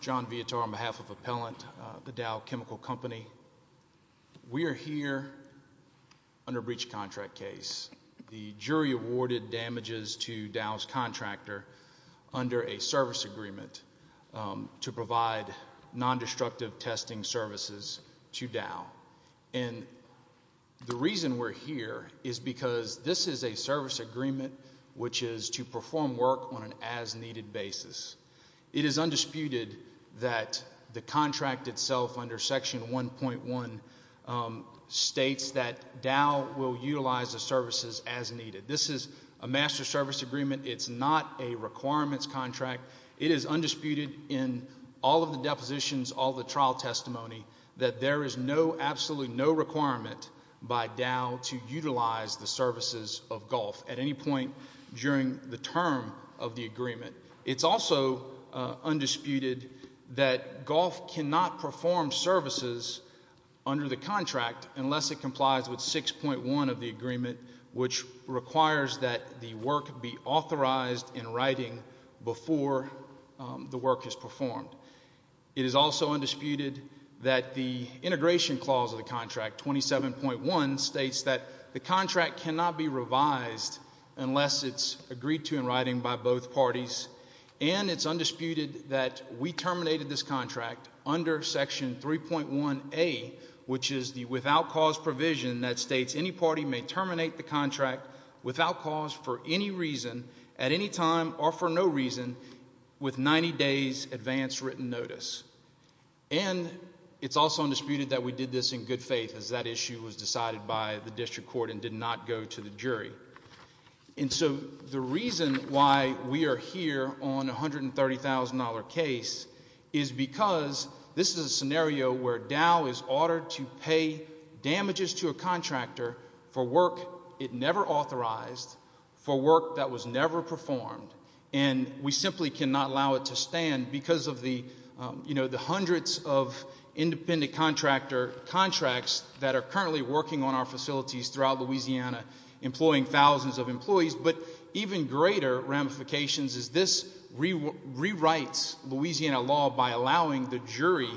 John Vietor on behalf of Appellant, the Dow Chemical Company. We are here under breach contract case. The jury awarded damages to Dow's contractor under a service agreement to provide non-destructive testing services to Dow. And the reason we're here is because this is a service agreement which is to perform work on an as-needed basis. It is undisputed that the contract itself under Section 1.1 states that Dow will utilize the services as needed. This is a master service agreement. It's not a requirements contract. It is undisputed in all of the depositions, all the trial testimony, that there is no, absolutely no requirement by Dow to utilize the services of Gulf at any point during the term of the agreement. It's also undisputed that Gulf cannot perform services under the contract unless it complies with 6.1 of the agreement, which requires that the work be authorized in writing before the work is performed. It is also undisputed that the integration clause of the contract, 27.1, states that the contract cannot be revised unless it's agreed to in writing by both parties. And it's undisputed that we terminated this contract under Section 3.1A, which is the without-cause provision that states any party may terminate the contract without cause, for any reason, at any time, or for no reason, with 90 days' advance written notice. And it's also undisputed that we did this in good faith, as that issue was decided by the district court and did not go to the jury. And so the reason why we are here on a $130,000 case is because this is a scenario where Dow is ordered to pay damages to a contractor for work it never authorized, for work that was never performed, and we simply cannot allow it to stand because of the hundreds of independent contractor contracts that are currently working on our facilities throughout Louisiana, employing thousands of employees. But even greater ramifications is this rewrites Louisiana law by allowing the jury—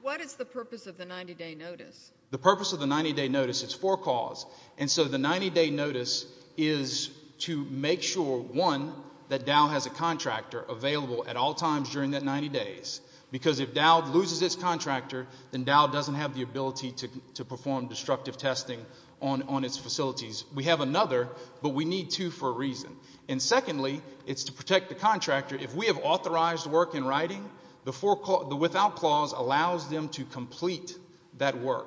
What is the purpose of the 90-day notice? The purpose of the 90-day notice is for cause. And so the 90-day notice is to make sure, one, that Dow has a contractor available at all times during that 90 days, because if Dow loses its contractor, then Dow doesn't have the ability to perform destructive testing on its facilities. We have another, but we need two for a reason. And secondly, it's to protect the contractor. If we have authorized work in writing, the without clause allows them to complete that work.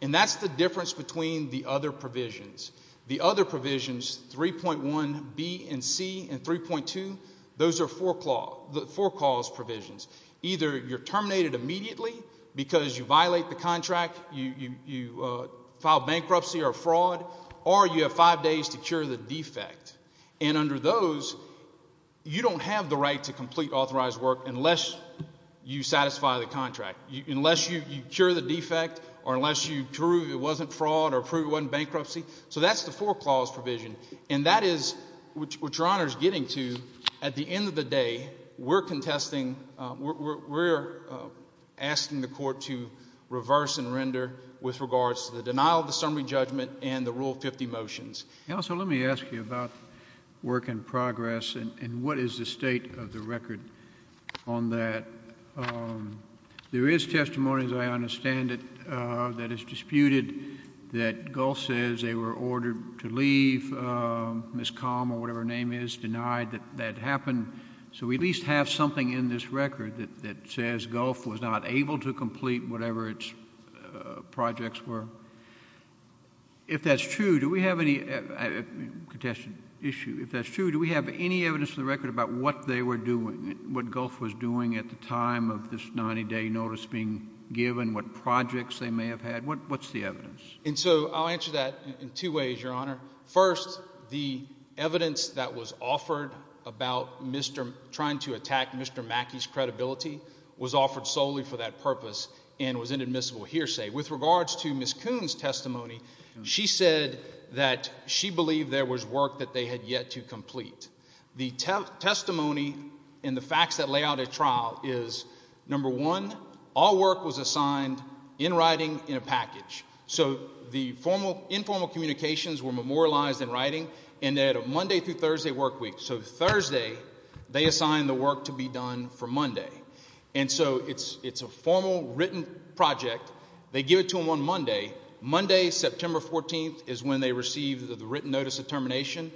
And that's the difference between the other provisions. The other provisions, 3.1b and c and 3.2, those are for cause provisions. Either you're terminated immediately because you violate the contract, you file bankruptcy or fraud, or you have five days to cure the defect. And under those, you don't have the right to complete authorized work unless you satisfy the contract, unless you cure the defect or unless you prove it wasn't fraud or prove it wasn't bankruptcy. So that's the for clause provision. And that is what Your Honor is getting to. At the end of the day, we're contesting, we're asking the court to reverse and render with regards to the denial of the summary judgment and the Rule 50 motions. Counsel, let me ask you about work in progress and what is the state of the record on that. There is testimony, as I understand it, that is disputed that Gulf says they were ordered to leave, Ms. Calm or whatever her name is, denied that that happened. So we at least have something in this record that says Gulf was not able to complete whatever its projects were. If that's true, do we have any evidence in the record about what they were doing, what Gulf was doing at the time of this 90-day notice being given, what projects they may have had? What's the evidence? And so I'll answer that in two ways, Your Honor. First, the evidence that was offered about trying to attack Mr. Mackey's credibility was offered solely for that purpose and was inadmissible hearsay. With regards to Ms. Coon's testimony, she said that she believed there was work that they had yet to complete. The testimony and the facts that lay out at trial is, number one, all work was assigned in writing in a package. So the informal communications were memorialized in writing and they had a Monday through Thursday work week. So Thursday they assigned the work to be done for Monday. And so it's a formal written project. They give it to them on Monday. Monday, September 14th, is when they receive the written notice of termination.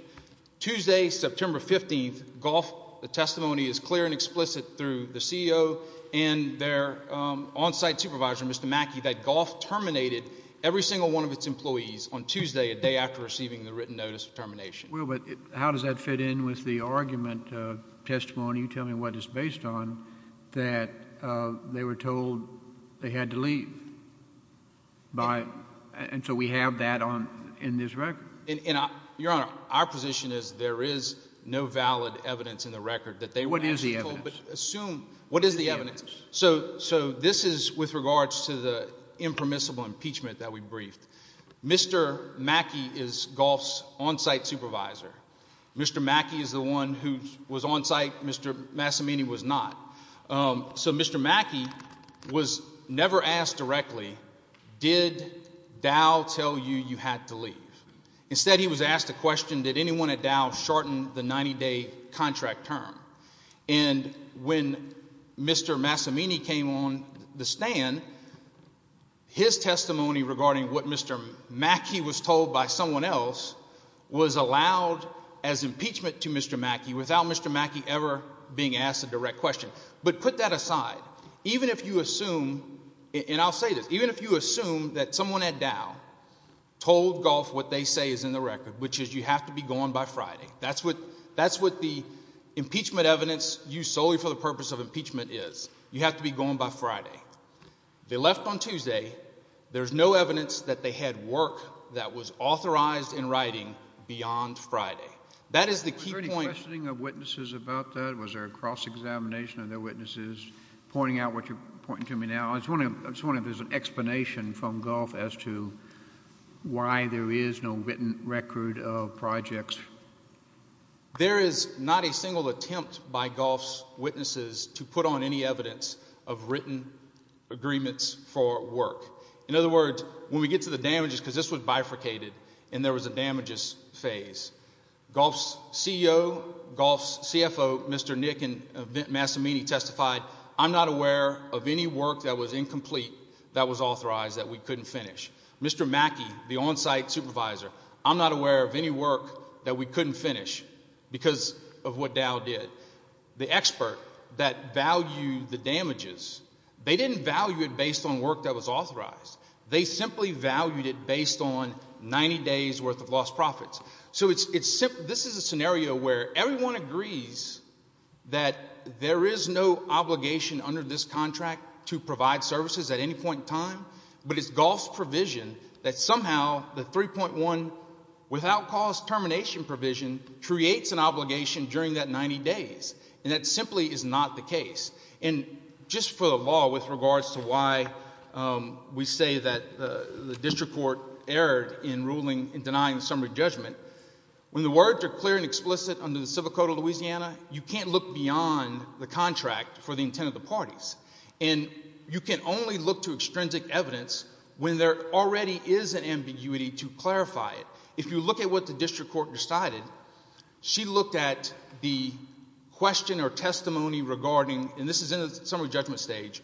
Tuesday, September 15th, Gulf, the testimony is clear and explicit through the CEO and their on-site supervisor, Mr. Mackey, that Gulf terminated every single one of its employees on Tuesday, a day after receiving the written notice of termination. Well, but how does that fit in with the argument of testimony? You tell me what it's based on, that they were told they had to leave. And so we have that in this record. Your Honor, our position is there is no valid evidence in the record that they were actually told. What is the evidence? Assume – what is the evidence? So this is with regards to the impermissible impeachment that we briefed. Mr. Mackey is Gulf's on-site supervisor. Mr. Mackey is the one who was on-site. Mr. Massimini was not. So Mr. Mackey was never asked directly, did Dow tell you you had to leave? Instead, he was asked the question, did anyone at Dow shorten the 90-day contract term? And when Mr. Massimini came on the stand, his testimony regarding what Mr. Mackey was told by someone else was allowed as impeachment to Mr. Mackey without Mr. Mackey ever being asked a direct question. But put that aside. Even if you assume – and I'll say this – even if you assume that someone at Dow told Gulf what they say is in the record, which is you have to be gone by Friday. That's what the impeachment evidence used solely for the purpose of impeachment is. You have to be gone by Friday. They left on Tuesday. There's no evidence that they had work that was authorized in writing beyond Friday. That is the key point. Was there any questioning of witnesses about that? Was there a cross-examination of their witnesses? Pointing out what you're pointing to me now. I was wondering if there's an explanation from Gulf as to why there is no written record of projects. There is not a single attempt by Gulf's witnesses to put on any evidence of written agreements for work. In other words, when we get to the damages, because this was bifurcated and there was a damages phase, Gulf's CEO, Gulf's CFO, Mr. Nick Massimini, testified, I'm not aware of any work that was incomplete that was authorized that we couldn't finish. Mr. Mackey, the on-site supervisor, I'm not aware of any work that we couldn't finish because of what Dow did. The expert that valued the damages, they didn't value it based on work that was authorized. They simply valued it based on 90 days' worth of lost profits. So this is a scenario where everyone agrees that there is no obligation under this contract to provide services at any point in time, but it's Gulf's provision that somehow the 3.1 without cause termination provision creates an obligation during that 90 days. And that simply is not the case. And just for the law with regards to why we say that the district court erred in ruling and denying summary judgment, when the words are clear and explicit under the civil code of Louisiana, you can't look beyond the contract for the intent of the parties. And you can only look to extrinsic evidence when there already is an ambiguity to clarify it. If you look at what the district court decided, she looked at the question or testimony regarding, and this is in the summary judgment stage,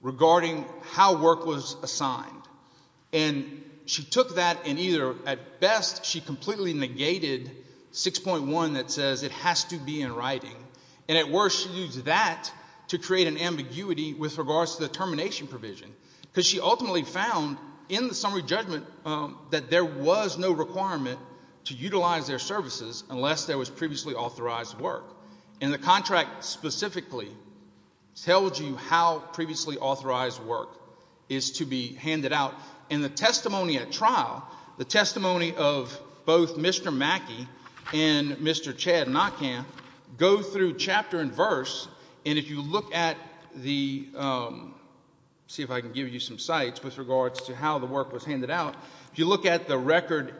regarding how work was assigned. And she took that and either at best she completely negated 6.1 that says it has to be in writing, and at worst she used that to create an ambiguity with regards to the termination provision because she ultimately found in the summary judgment that there was no requirement to utilize their services unless there was previously authorized work. And the contract specifically tells you how previously authorized work is to be handed out. And the testimony at trial, the testimony of both Mr. Mackey and Mr. Chad Nockham, go through chapter and verse, and if you look at the, see if I can give you some sites with regards to how the work was handed out. If you look at the record,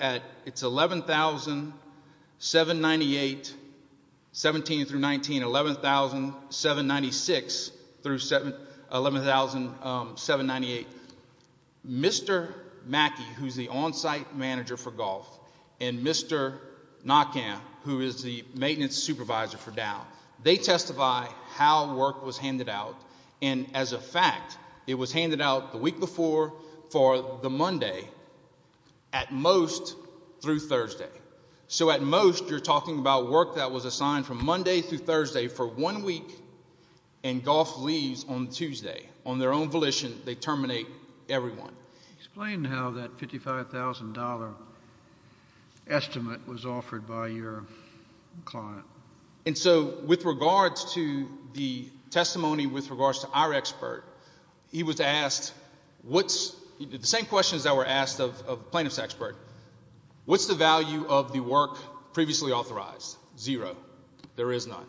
it's 11,798, 17 through 19, 11,796 through 11,798. Mr. Mackey, who's the on-site manager for golf, and Mr. Nockham, who is the maintenance supervisor for Dow, they testify how work was handed out. And as a fact, it was handed out the week before for the Monday at most through Thursday. So at most you're talking about work that was assigned from Monday through Thursday for one week and golf leaves on Tuesday. On their own volition, they terminate everyone. Explain how that $55,000 estimate was offered by your client. And so with regards to the testimony with regards to our expert, he was asked, the same questions that were asked of the plaintiff's expert, what's the value of the work previously authorized? Zero. There is none.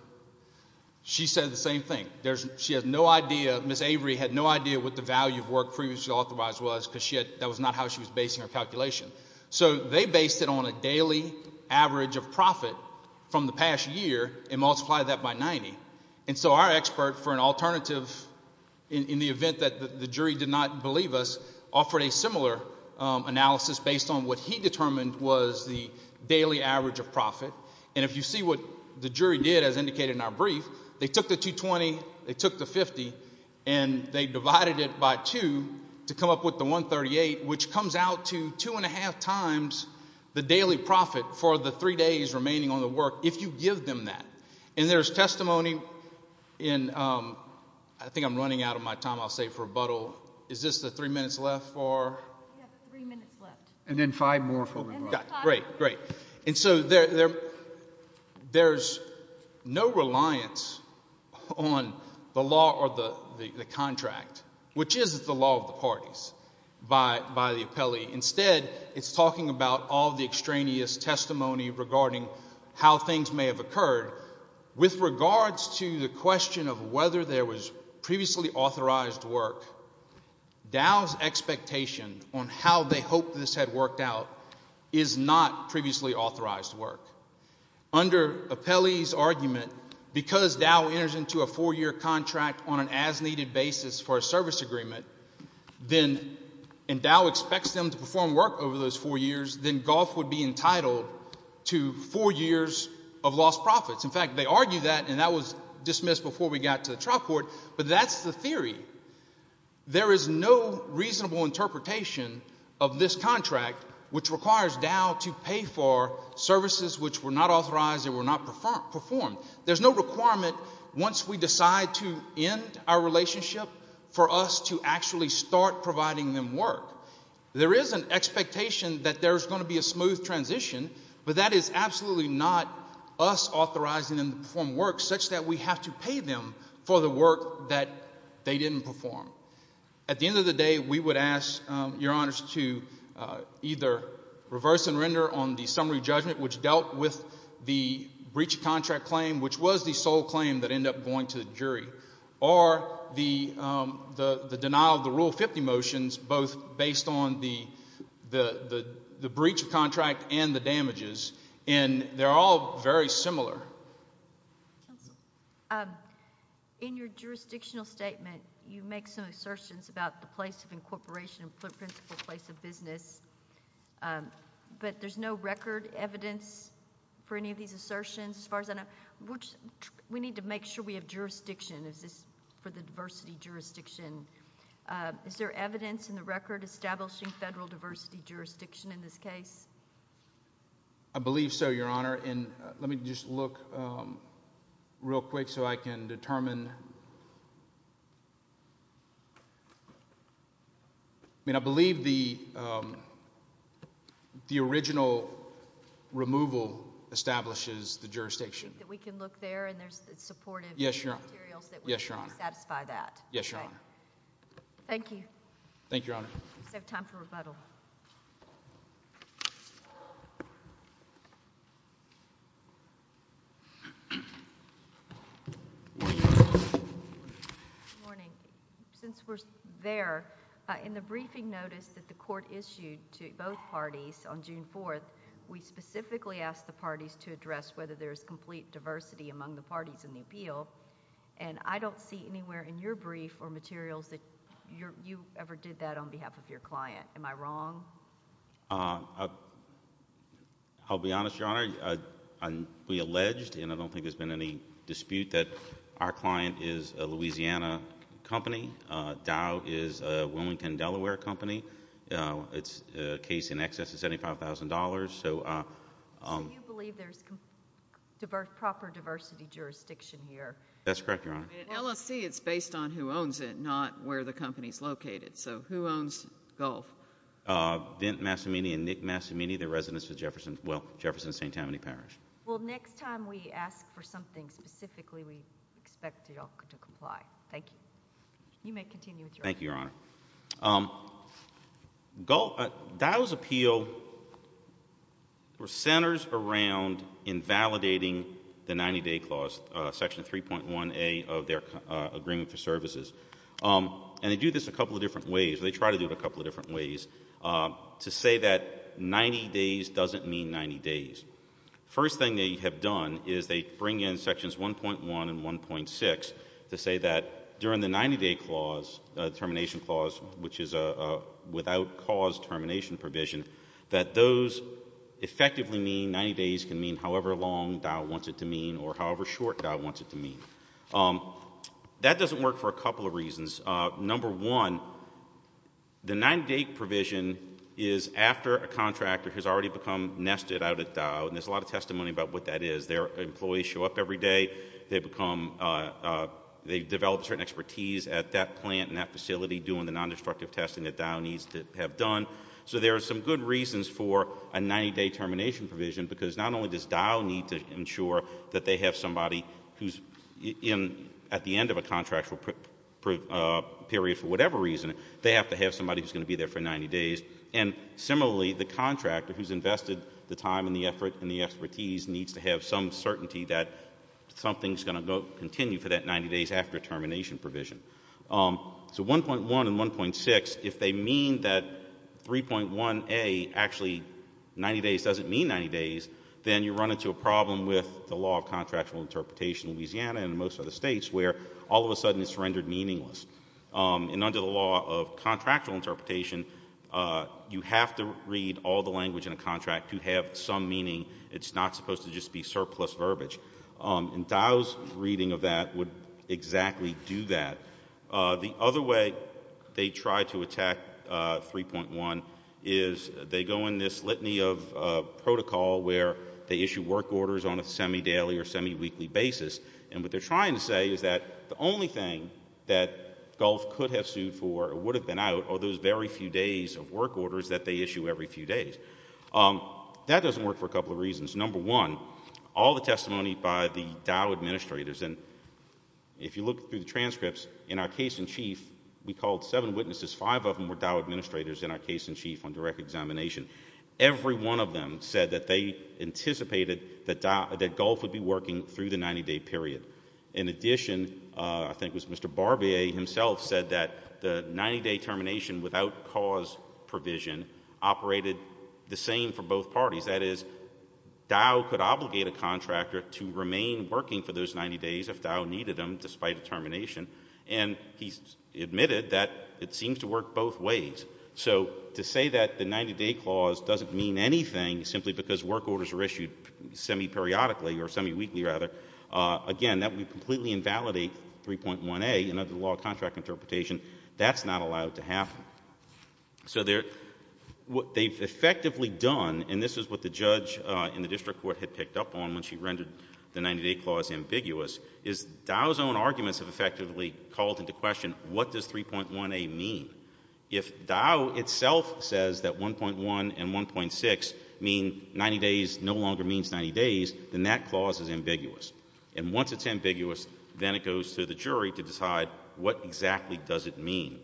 She said the same thing. She has no idea. Ms. Avery had no idea what the value of work previously authorized was because that was not how she was basing her calculation. So they based it on a daily average of profit from the past year and multiplied that by 90. And so our expert, for an alternative in the event that the jury did not believe us, offered a similar analysis based on what he determined was the daily average of profit. And if you see what the jury did, as indicated in our brief, they took the 220, they took the 50, and they divided it by two to come up with the 138, which comes out to two and a half times the daily profit for the three days remaining on the work, if you give them that. And there's testimony in, I think I'm running out of my time, I'll save for rebuttal. Is this the three minutes left for? We have three minutes left. And then five more for rebuttal. Great, great. And so there's no reliance on the law or the contract, which is the law of the parties, by the appellee. Instead, it's talking about all the extraneous testimony regarding how things may have occurred. With regards to the question of whether there was previously authorized work, Dow's expectation on how they hope this had worked out is not previously authorized work. Under appellee's argument, because Dow enters into a four-year contract on an as-needed basis for a service agreement, and Dow expects them to perform work over those four years, then Goff would be entitled to four years of lost profits. In fact, they argue that, and that was dismissed before we got to the trial court, but that's the theory. There is no reasonable interpretation of this contract, which requires Dow to pay for services which were not authorized and were not performed. There's no requirement, once we decide to end our relationship, for us to actually start providing them work. There is an expectation that there's going to be a smooth transition, but that is absolutely not us authorizing them to perform work, such that we have to pay them for the work that they didn't perform. At the end of the day, we would ask your honors to either reverse and render on the summary judgment, which dealt with the breach of contract claim, which was the sole claim that ended up going to the jury, or the denial of the Rule 50 motions, both based on the breach of contract and the damages, and they're all very similar. In your jurisdictional statement, you make some assertions about the place of incorporation and principal place of business, but there's no record evidence for any of these assertions as far as I know. We need to make sure we have jurisdiction for the diversity jurisdiction. Is there evidence in the record establishing federal diversity jurisdiction in this case? I believe so, your honor, and let me just look real quick so I can determine. I mean, I believe the original removal establishes the jurisdiction. We can look there, and there's supportive materials that would satisfy that. Yes, your honor. Thank you. Thank you, your honor. We just have time for rebuttal. Good morning. Since we're there, in the briefing notice that the court issued to both parties on June 4th, we specifically asked the parties to address whether there's complete diversity among the parties in the appeal, and I don't see anywhere in your brief or materials that you ever did that on behalf of your client. Am I wrong? I'll be honest, your honor. We alleged, and I don't think there's been any dispute, that our client is a Louisiana company. Dow is a Wilmington, Delaware company. It's a case in excess of $75,000. So you believe there's proper diversity jurisdiction here? That's correct, your honor. In LSC, it's based on who owns it, not where the company's located. So who owns Gulf? Vint Massimini and Nick Massimini. They're residents of Jefferson St. Tammany Parish. Well, next time we ask for something specifically, we expect you all to comply. Thank you. You may continue with your argument. Thank you, your honor. Dow's appeal centers around invalidating the 90-day clause, Section 3.1A of their agreement for services, and they do this a couple of different ways. They try to do it a couple of different ways to say that 90 days doesn't mean 90 days. First thing they have done is they bring in Sections 1.1 and 1.6 to say that during the 90-day clause, the termination clause, which is a without cause termination provision, that those effectively mean 90 days can mean however long Dow wants it to mean or however short Dow wants it to mean. That doesn't work for a couple of reasons. Number one, the 90-day provision is after a contractor has already become nested out at Dow, and there's a lot of testimony about what that is. Their employees show up every day. They develop certain expertise at that plant and that facility doing the nondestructive testing that Dow needs to have done. So there are some good reasons for a 90-day termination provision, because not only does Dow need to ensure that they have somebody who's at the end of a contractual period for whatever reason, they have to have somebody who's going to be there for 90 days. And similarly, the contractor who's invested the time and the effort and the expertise needs to have some certainty that something's going to continue for that 90 days after termination provision. So 1.1 and 1.6, if they mean that 3.1A actually 90 days doesn't mean 90 days, then you run into a problem with the law of contractual interpretation in Louisiana and in most other states where all of a sudden it's rendered meaningless. And under the law of contractual interpretation, you have to read all the language in a contract to have some meaning. It's not supposed to just be surplus verbiage. And Dow's reading of that would exactly do that. The other way they try to attack 3.1 is they go in this litany of protocol where they issue work orders on a semi-daily or semi-weekly basis. And what they're trying to say is that the only thing that Gulf could have sued for or would have been out are those very few days of work orders that they issue every few days. That doesn't work for a couple of reasons. Number one, all the testimony by the Dow administrators, and if you look through the transcripts, in our case in chief we called seven witnesses. Five of them were Dow administrators in our case in chief on direct examination. Every one of them said that they anticipated that Gulf would be working through the 90-day period. In addition, I think it was Mr. Barbier himself said that the 90-day termination without cause provision operated the same for both parties. That is, Dow could obligate a contractor to remain working for those 90 days if Dow needed them despite termination. And he admitted that it seems to work both ways. So to say that the 90-day clause doesn't mean anything simply because work orders are issued semi-periodically or semi-weekly rather, again, that would completely invalidate 3.1a. And under the law of contract interpretation, that's not allowed to happen. So what they've effectively done, and this is what the judge in the district court had picked up on when she rendered the 90-day clause ambiguous, is Dow's own arguments have effectively called into question what does 3.1a mean? If Dow itself says that 1.1 and 1.6 mean 90 days no longer means 90 days, then that clause is ambiguous. And once it's ambiguous, then it goes to the jury to decide what exactly does it mean.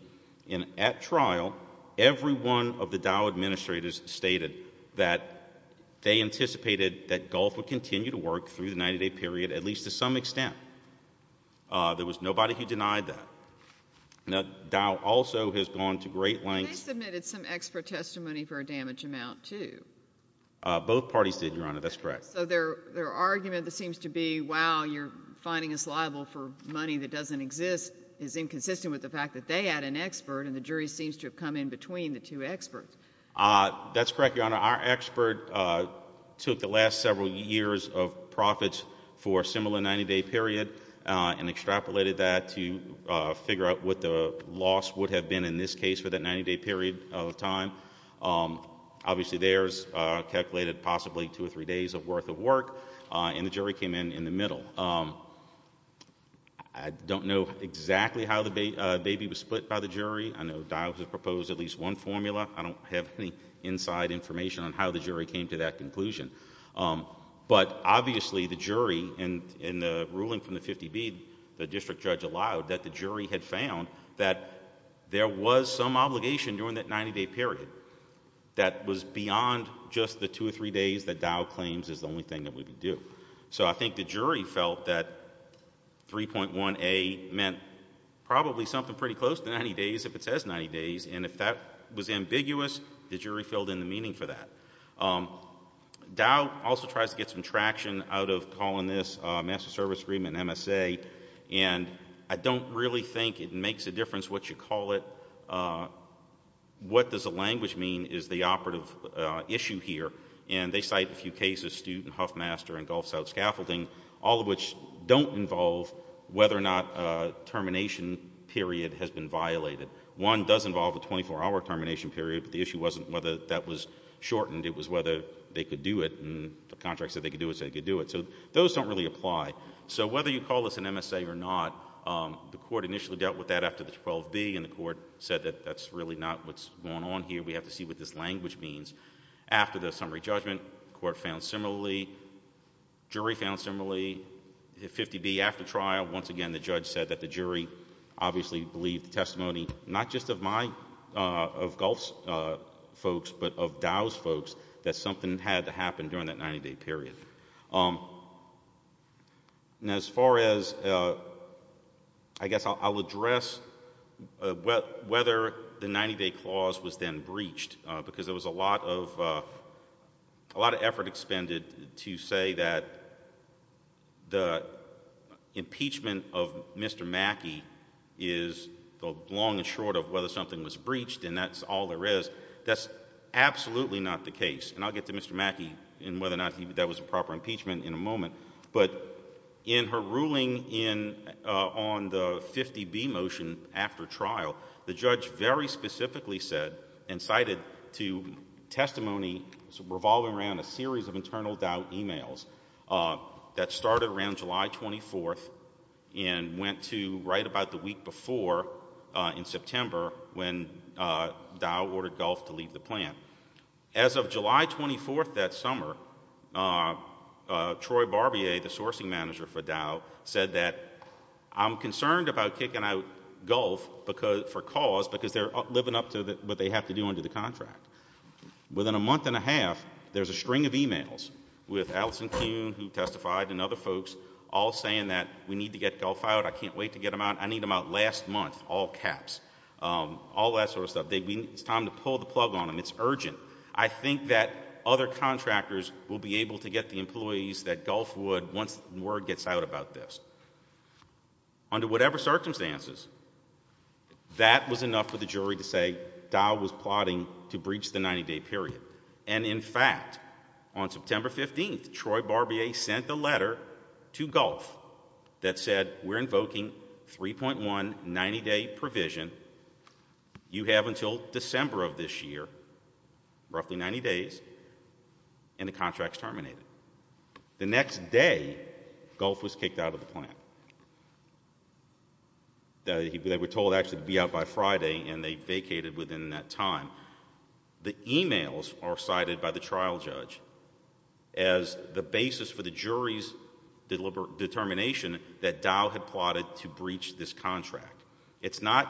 And at trial, every one of the Dow administrators stated that they anticipated that Gulf would continue to work through the 90-day period at least to some extent. There was nobody who denied that. Now, Dow also has gone to great lengths. They submitted some extra testimony for a damaged amount too. Both parties did, Your Honor. That's correct. So their argument that seems to be, wow, you're finding us liable for money that doesn't exist is inconsistent with the fact that they had an expert, and the jury seems to have come in between the two experts. That's correct, Your Honor. Our expert took the last several years of profits for a similar 90-day period and extrapolated that to figure out what the loss would have been in this case for that 90-day period of time. Obviously, theirs calculated possibly two or three days worth of work, and the jury came in in the middle. I don't know exactly how the baby was split by the jury. I know Dow has proposed at least one formula. I don't have any inside information on how the jury came to that conclusion. But obviously, the jury in the ruling from the 50B, the district judge allowed, that the jury had found that there was some obligation during that 90-day period that was beyond just the two or three days that Dow claims is the only thing that would be due. So I think the jury felt that 3.1A meant probably something pretty close to 90 days if it says 90 days, and if that was ambiguous, the jury filled in the meaning for that. Dow also tries to get some traction out of calling this a master service agreement, MSA, and I don't really think it makes a difference what you call it. What does the language mean is the operative issue here, and they cite a few cases, Stute and Huffmaster and Gulf South Scaffolding, all of which don't involve whether or not a termination period has been violated. One does involve a 24-hour termination period, but the issue wasn't whether that was shortened. It was whether they could do it, and the contract said they could do it, so they could do it. So those don't really apply. So whether you call this an MSA or not, the court initially dealt with that after the 12B, and the court said that that's really not what's going on here. We have to see what this language means. After the summary judgment, the court found similarly. The jury found similarly. 50B, after trial, once again the judge said that the jury obviously believed the testimony, not just of my, of Gulf's folks, but of Dow's folks, that something had to happen during that 90-day period. As far as, I guess I'll address whether the 90-day clause was then breached, because there was a lot of effort expended to say that the impeachment of Mr. Mackey is the long and short of whether something was breached, and that's all there is. That's absolutely not the case, and I'll get to Mr. Mackey and whether or not that was a proper impeachment in a moment. But in her ruling on the 50B motion after trial, the judge very specifically said and cited to testimony revolving around a series of internal Dow emails that started around July 24th and went to right about the week before in September when Dow ordered Gulf to leave the plant. As of July 24th that summer, Troy Barbier, the sourcing manager for Dow, said that I'm concerned about kicking out Gulf for cause because they're living up to what they have to do under the contract. Within a month and a half, there's a string of emails with Allison Kuhn, who testified, and other folks all saying that we need to get Gulf out, I can't wait to get him out, I need him out last month, all caps, all that sort of stuff. It's time to pull the plug on them. It's urgent. I think that other contractors will be able to get the employees that Gulf would once word gets out about this. Under whatever circumstances, that was enough for the jury to say Dow was plotting to breach the 90-day period. And in fact, on September 15th, Troy Barbier sent a letter to Gulf that said we're invoking 3.1 90-day provision, you have until December of this year, roughly 90 days, and the contract's terminated. The next day, Gulf was kicked out of the plant. They were told actually to be out by Friday, and they vacated within that time. The emails are cited by the trial judge as the basis for the jury's determination that Dow had plotted to breach this contract. It's not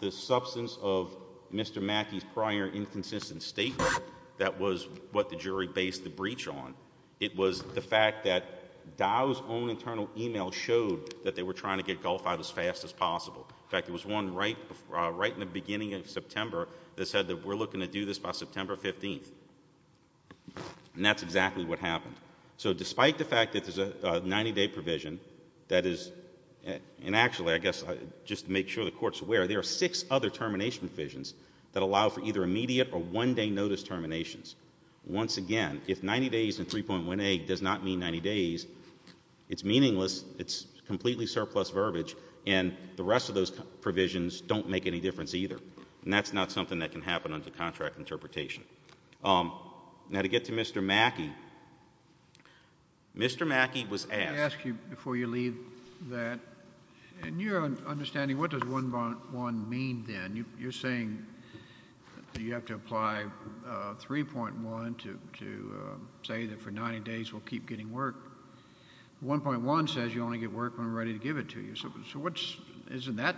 the substance of Mr. Mackey's prior inconsistent statement that was what the jury based the breach on. It was the fact that Dow's own internal email showed that they were trying to get Gulf out as fast as possible. In fact, there was one right in the beginning of September that said that we're looking to do this by September 15th. And that's exactly what happened. So despite the fact that there's a 90-day provision that is, and actually I guess just to make sure the Court's aware, there are six other termination provisions that allow for either immediate or one-day notice terminations. Once again, if 90 days and 3.18 does not mean 90 days, it's meaningless, it's completely surplus verbiage, and the rest of those provisions don't make any difference either. And that's not something that can happen under contract interpretation. Now to get to Mr. Mackey, Mr. Mackey was asked... Let me ask you before you leave that, in your understanding, what does 1.1 mean then? You're saying that you have to apply 3.1 to say that for 90 days we'll keep getting work. 1.1 says you only get work when we're ready to give it to you. So isn't that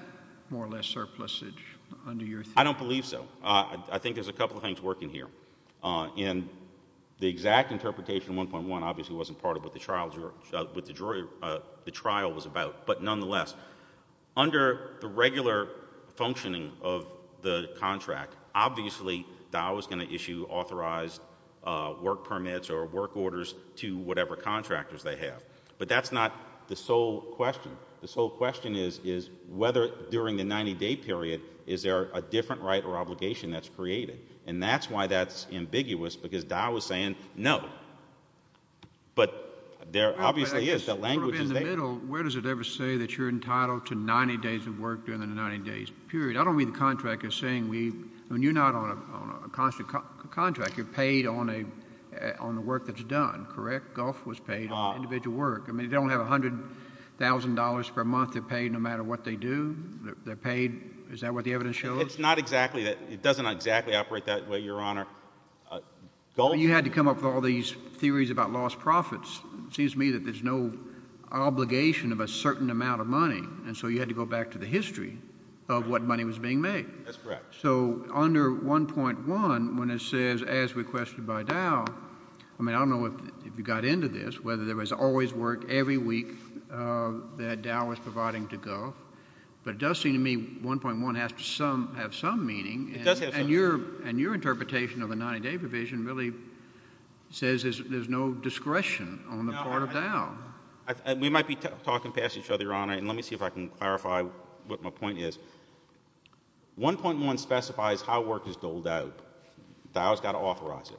more or less surplusage under your theory? I don't believe so. I think there's a couple of things working here. And the exact interpretation of 1.1 obviously wasn't part of what the trial was about. But nonetheless, under the regular functioning of the contract, obviously DOW is going to issue authorized work permits or work orders to whatever contractors they have. But that's not the sole question. The sole question is whether during the 90-day period is there a different right or obligation that's created. And that's why that's ambiguous, because DOW is saying no. But there obviously is. Where does it ever say that you're entitled to 90 days of work during the 90-day period? I don't read the contract as saying we... You're not on a constant contract. You're paid on the work that's done, correct? Gulf was paid on individual work. They don't have $100,000 per month they're paid no matter what they do. They're paid. Is that what the evidence shows? It's not exactly that. It doesn't exactly operate that way, Your Honor. Gulf... You had to come up with all these theories about lost profits. It seems to me that there's no obligation of a certain amount of money, and so you had to go back to the history of what money was being made. That's correct. So under 1.1, when it says as requested by DOW, I mean, I don't know if you got into this, whether there was always work every week that DOW was providing to Gulf, but it does seem to me 1.1 has to have some meaning. It does have some meaning. And your interpretation of the 90-day provision really says there's no discretion on the part of DOW. We might be talking past each other, Your Honor, and let me see if I can clarify what my point is. 1.1 specifies how work is doled out. DOW has got to authorize it.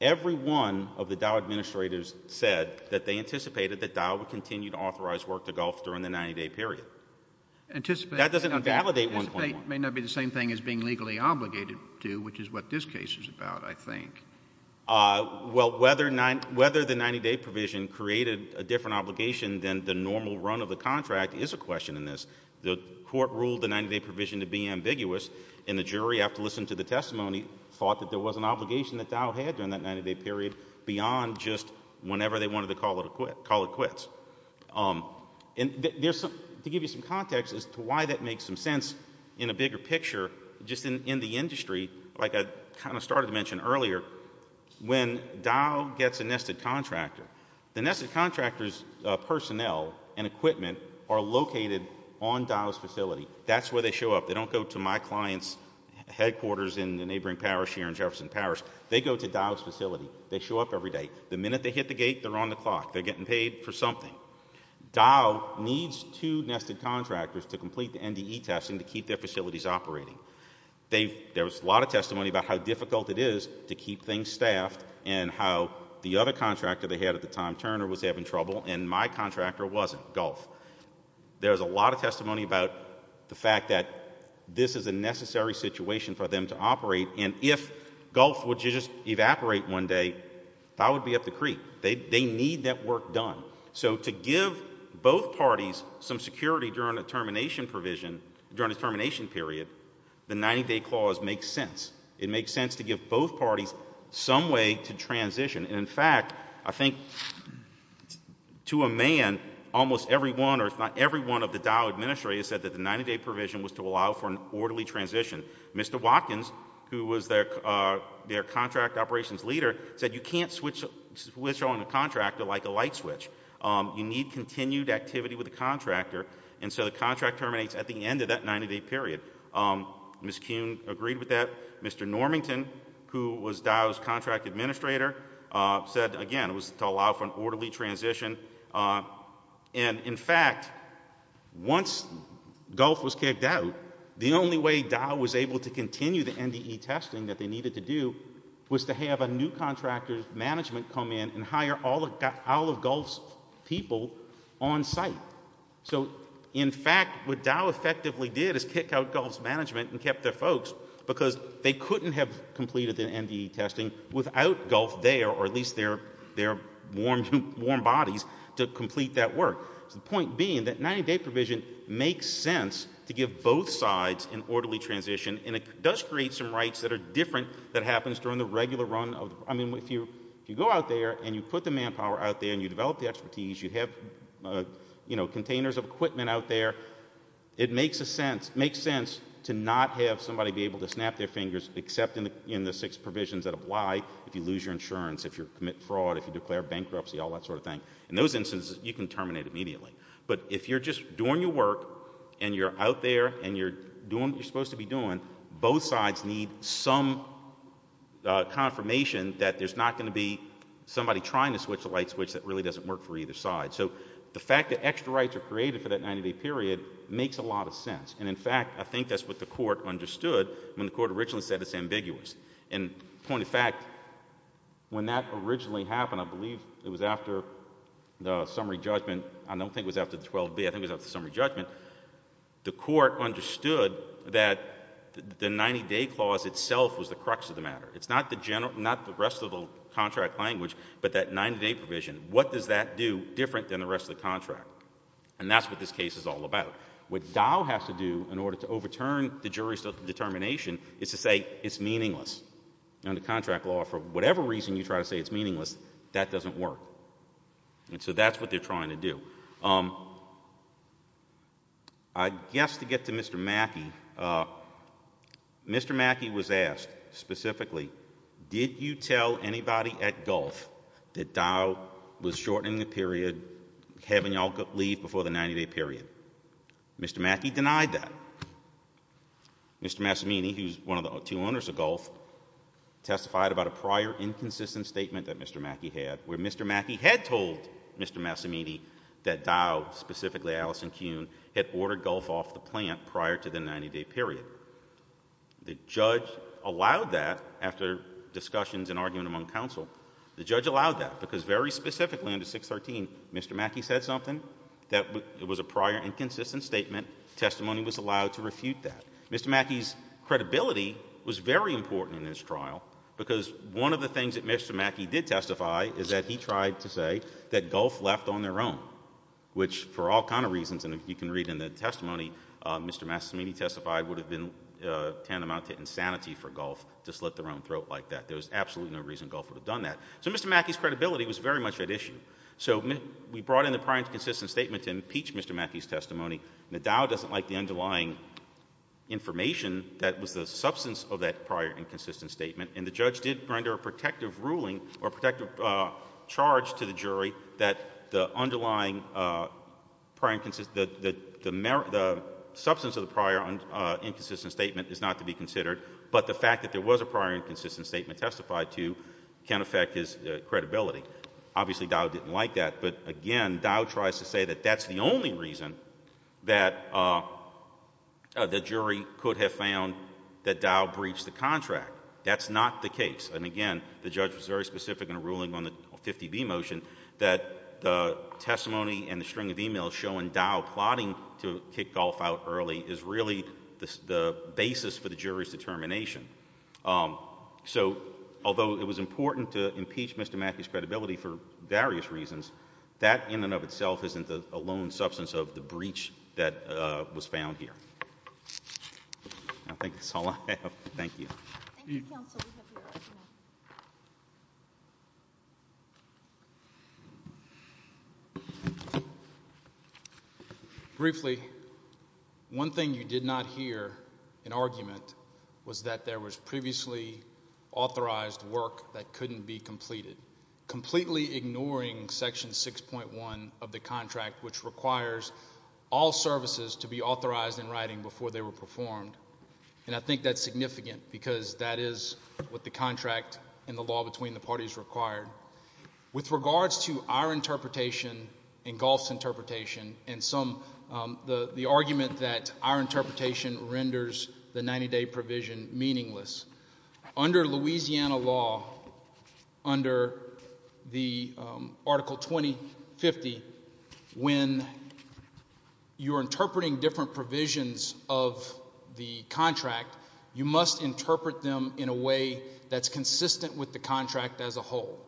Every one of the DOW administrators said that they anticipated that DOW would continue to authorize work to Gulf during the 90-day period. That doesn't validate 1.1. Anticipate may not be the same thing as being legally obligated to, which is what this case is about, I think. Well, whether the 90-day provision created a different obligation than the normal run of the contract is a question in this. The court ruled the 90-day provision to be ambiguous, and the jury, after listening to the testimony, thought that there was an obligation that DOW had during that 90-day period beyond just whenever they wanted to call it quits. To give you some context as to why that makes some sense in a bigger picture, just in the industry, like I kind of started to mention earlier, when DOW gets a nested contractor, the nested contractor's personnel and equipment are located on DOW's facility. That's where they show up. They don't go to my client's headquarters in the neighboring parish here in Jefferson Parish. They go to DOW's facility. They show up every day. The minute they hit the gate, they're on the clock. They're getting paid for something. DOW needs two nested contractors to complete the NDE testing to keep their facilities operating. There was a lot of testimony about how difficult it is to keep things staffed and how the other contractor they had at the time, Turner, was having trouble, and my contractor wasn't, Gulf. There was a lot of testimony about the fact that this is a necessary situation for them to operate, and if Gulf would just evaporate one day, that would be up the creek. They need that work done. So to give both parties some security during a termination period, the 90-day clause makes sense. It makes sense to give both parties some way to transition. In fact, I think to a man, almost every one or if not every one of the DOW administrators said that the 90-day provision was to allow for an orderly transition. Mr. Watkins, who was their contract operations leader, said you can't switch on a contractor like a light switch. You need continued activity with the contractor, and so the contract terminates at the end of that 90-day period. Ms. Kuhn agreed with that. Mr. Normington, who was DOW's contract administrator, said, again, it was to allow for an orderly transition. In fact, once Gulf was kicked out, the only way DOW was able to continue the NDE testing that they needed to do was to have a new contractor's management come in and hire all of Gulf's people on site. So in fact, what DOW effectively did is kick out Gulf's management and kept their folks because they couldn't have completed the NDE testing without Gulf there, or at least their warm bodies, to complete that work. The point being that 90-day provision makes sense to give both sides an orderly transition, and it does create some rights that are different that happens during the regular run. I mean, if you go out there and you put the manpower out there and you develop the expertise, you have containers of equipment out there, it makes sense to not have somebody be able to snap their fingers except in the six provisions that apply, if you lose your insurance, if you commit fraud, if you declare bankruptcy, all that sort of thing. In those instances, you can terminate immediately. But if you're just doing your work and you're out there and you're doing what you're supposed to be doing, both sides need some confirmation that there's not going to be somebody trying to switch the light switch that really doesn't work for either side. So the fact that extra rights are created for that 90-day period makes a lot of sense. And in fact, I think that's what the court understood when the court originally said it's ambiguous. And point of fact, when that originally happened, I believe it was after the summary judgment. I don't think it was after the 12B. I think it was after the summary judgment. The court understood that the 90-day clause itself was the crux of the matter. It's not the rest of the contract language, but that 90-day provision. What does that do different than the rest of the contract? And that's what this case is all about. What Dow has to do in order to overturn the jury's determination is to say it's meaningless. Under contract law, for whatever reason you try to say it's meaningless, that doesn't work. And so that's what they're trying to do. I guess to get to Mr. Mackey, Mr. Mackey was asked specifically, did you tell anybody at Gulf that Dow was shortening the period, having you all leave before the 90-day period? Mr. Mackey denied that. Mr. Massimini, who's one of the two owners of Gulf, testified about a prior inconsistent statement that Mr. Mackey had, where Mr. Mackey had told Mr. Massimini that Dow, specifically Allison Kuhn, had ordered Gulf off the plant prior to the 90-day period. The judge allowed that after discussions and argument among counsel. The judge allowed that because very specifically under 613, Mr. Mackey said something that was a prior inconsistent statement. Testimony was allowed to refute that. Mr. Mackey's credibility was very important in this trial because one of the things that Mr. Mackey did testify is that he tried to say that Gulf left on their own, which for all kinds of reasons, and you can read in the testimony, Mr. Massimini testified would have been tantamount to insanity for Gulf to slit their own throat like that. There was absolutely no reason Gulf would have done that. So Mr. Mackey's credibility was very much at issue. So we brought in the prior inconsistent statement to impeach Mr. Mackey's testimony. Now, Dow doesn't like the underlying information that was the substance of that prior inconsistent statement, and the judge did render a protective ruling or a protective charge to the jury that the underlying substance of the prior inconsistent statement is not to be considered, but the fact that there was a prior inconsistent statement testified to can affect his credibility. Obviously, Dow didn't like that, but again, Dow tries to say that that's the only reason that the jury could have found that Dow breached the contract. That's not the case, and again, the judge was very specific in ruling on the 50B motion that the testimony and the string of emails showing Dow plotting to kick Gulf out early is really the basis for the jury's determination. So although it was important to impeach Mr. Mackey's credibility for various reasons, that in and of itself isn't a lone substance of the breach that was found here. I think that's all I have. Thank you. Thank you, counsel. We'd be happy to recognize you. Thank you. Briefly, one thing you did not hear in argument was that there was previously authorized work that couldn't be completed, completely ignoring Section 6.1 of the contract, which requires all services to be authorized in writing before they were performed, and I think that's significant because that is what the contract and the law between the parties required. With regards to our interpretation and Gulf's interpretation and the argument that our interpretation renders the 90-day provision meaningless, under Louisiana law, under Article 2050, when you're interpreting different provisions of the contract, you must interpret them in a way that's consistent with the contract as a whole.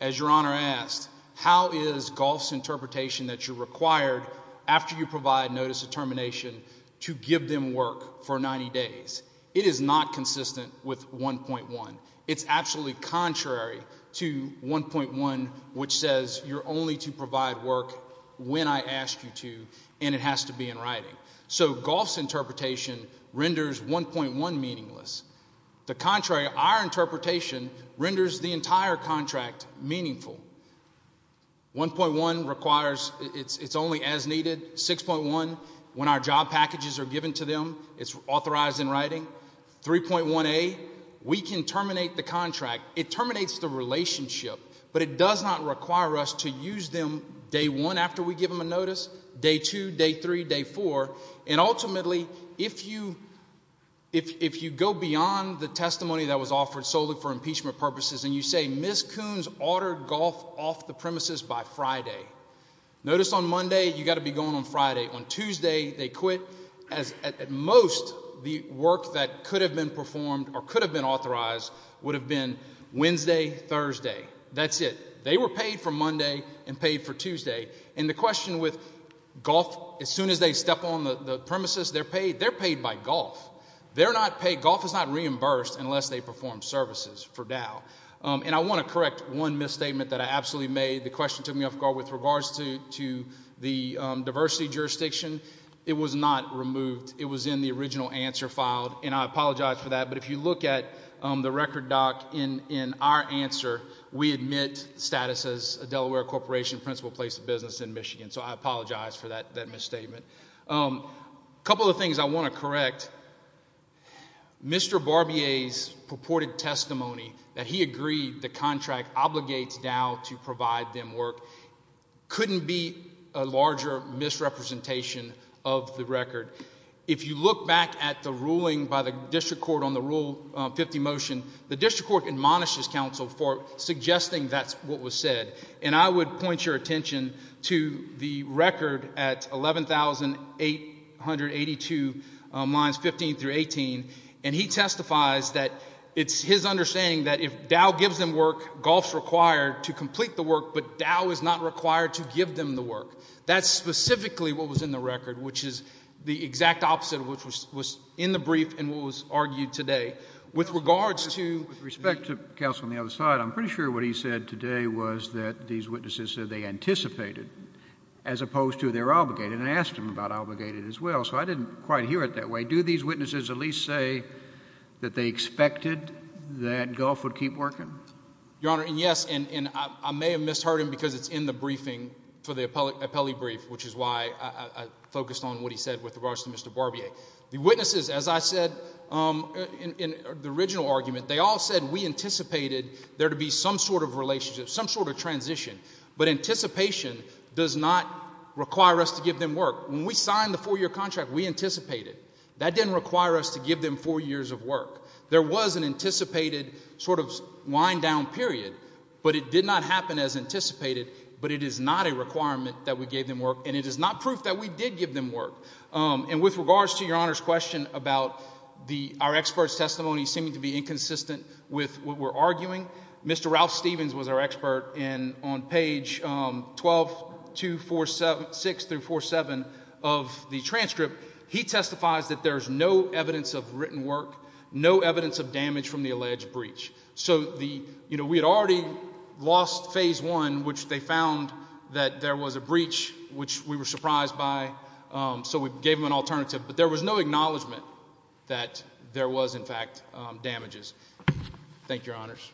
As Your Honor asked, how is Gulf's interpretation that you're required, after you provide notice of termination, to give them work for 90 days? It is not consistent with 1.1. It's absolutely contrary to 1.1, which says you're only to provide work when I ask you to, and it has to be in writing. So Gulf's interpretation renders 1.1 meaningless. The contrary, our interpretation renders the entire contract meaningful. 1.1 requires it's only as needed. 6.1, when our job packages are given to them, it's authorized in writing. 3.1a, we can terminate the contract. It terminates the relationship, after we give them a notice, day 2, day 3, day 4, and ultimately, if you go beyond the testimony that was offered solely for impeachment purposes, and you say, Ms. Coons ordered Gulf off the premises by Friday. Notice on Monday, you've got to be going on Friday. On Tuesday, they quit. At most, the work that could have been performed or could have been authorized would have been Wednesday, Thursday. That's it. They were paid for Monday and paid for Tuesday. And the question with Gulf, as soon as they step on the premises, they're paid by Gulf. They're not paid. Gulf is not reimbursed unless they perform services for Dow. And I want to correct one misstatement that I absolutely made. The question took me off guard with regards to the diversity jurisdiction. It was not removed. It was in the original answer filed, and I apologize for that, but if you look at the record, Doc, in our answer, we admit status as a Delaware Corporation principal place of business in Michigan, so I apologize for that misstatement. A couple of things I want to correct. Mr. Barbier's purported testimony that he agreed the contract obligates Dow to provide them work couldn't be a larger misrepresentation of the record. If you look back at the ruling by the district court on the Rule 50 motion, the district court admonishes counsel for suggesting that's what was said, and I would point your attention to the record at 11,882 lines 15 through 18, and he testifies that it's his understanding that if Dow gives them work, Gulf's required to complete the work, but Dow is not required to give them the work. That's specifically what was in the record, which is the exact opposite of what was in the brief and what was argued today. With regards to... With respect to counsel on the other side, I'm pretty sure what he said today was that these witnesses said they anticipated as opposed to they're obligated, and I asked him about obligated as well, so I didn't quite hear it that way. Do these witnesses at least say that they expected that Gulf would keep working? Your Honor, and yes, and I may have misheard him because it's in the briefing for the appellee brief, which is why I focused on what he said with regards to Mr. Barbier. The witnesses, as I said, in the original argument, they all said we anticipated there to be some sort of relationship, some sort of transition, but anticipation does not require us to give them work. When we signed the four-year contract, we anticipated. That didn't require us to give them four years of work. There was an anticipated sort of wind-down period, but it did not happen as anticipated, but it is not a requirement that we gave them work, and it is not proof that we did give them work. And with regards to Your Honor's question about our experts' testimony seeming to be inconsistent with what we're arguing, Mr. Ralph Stevens was our expert, and on page 12-6-4-7 of the transcript, he testifies that there's no evidence of written work, no evidence of damage from the alleged breach. So we had already lost phase one, which they found that there was a breach, which we were surprised by, so we gave them an alternative, but there was no acknowledgment that there was, in fact, damages. Thank you, Your Honors.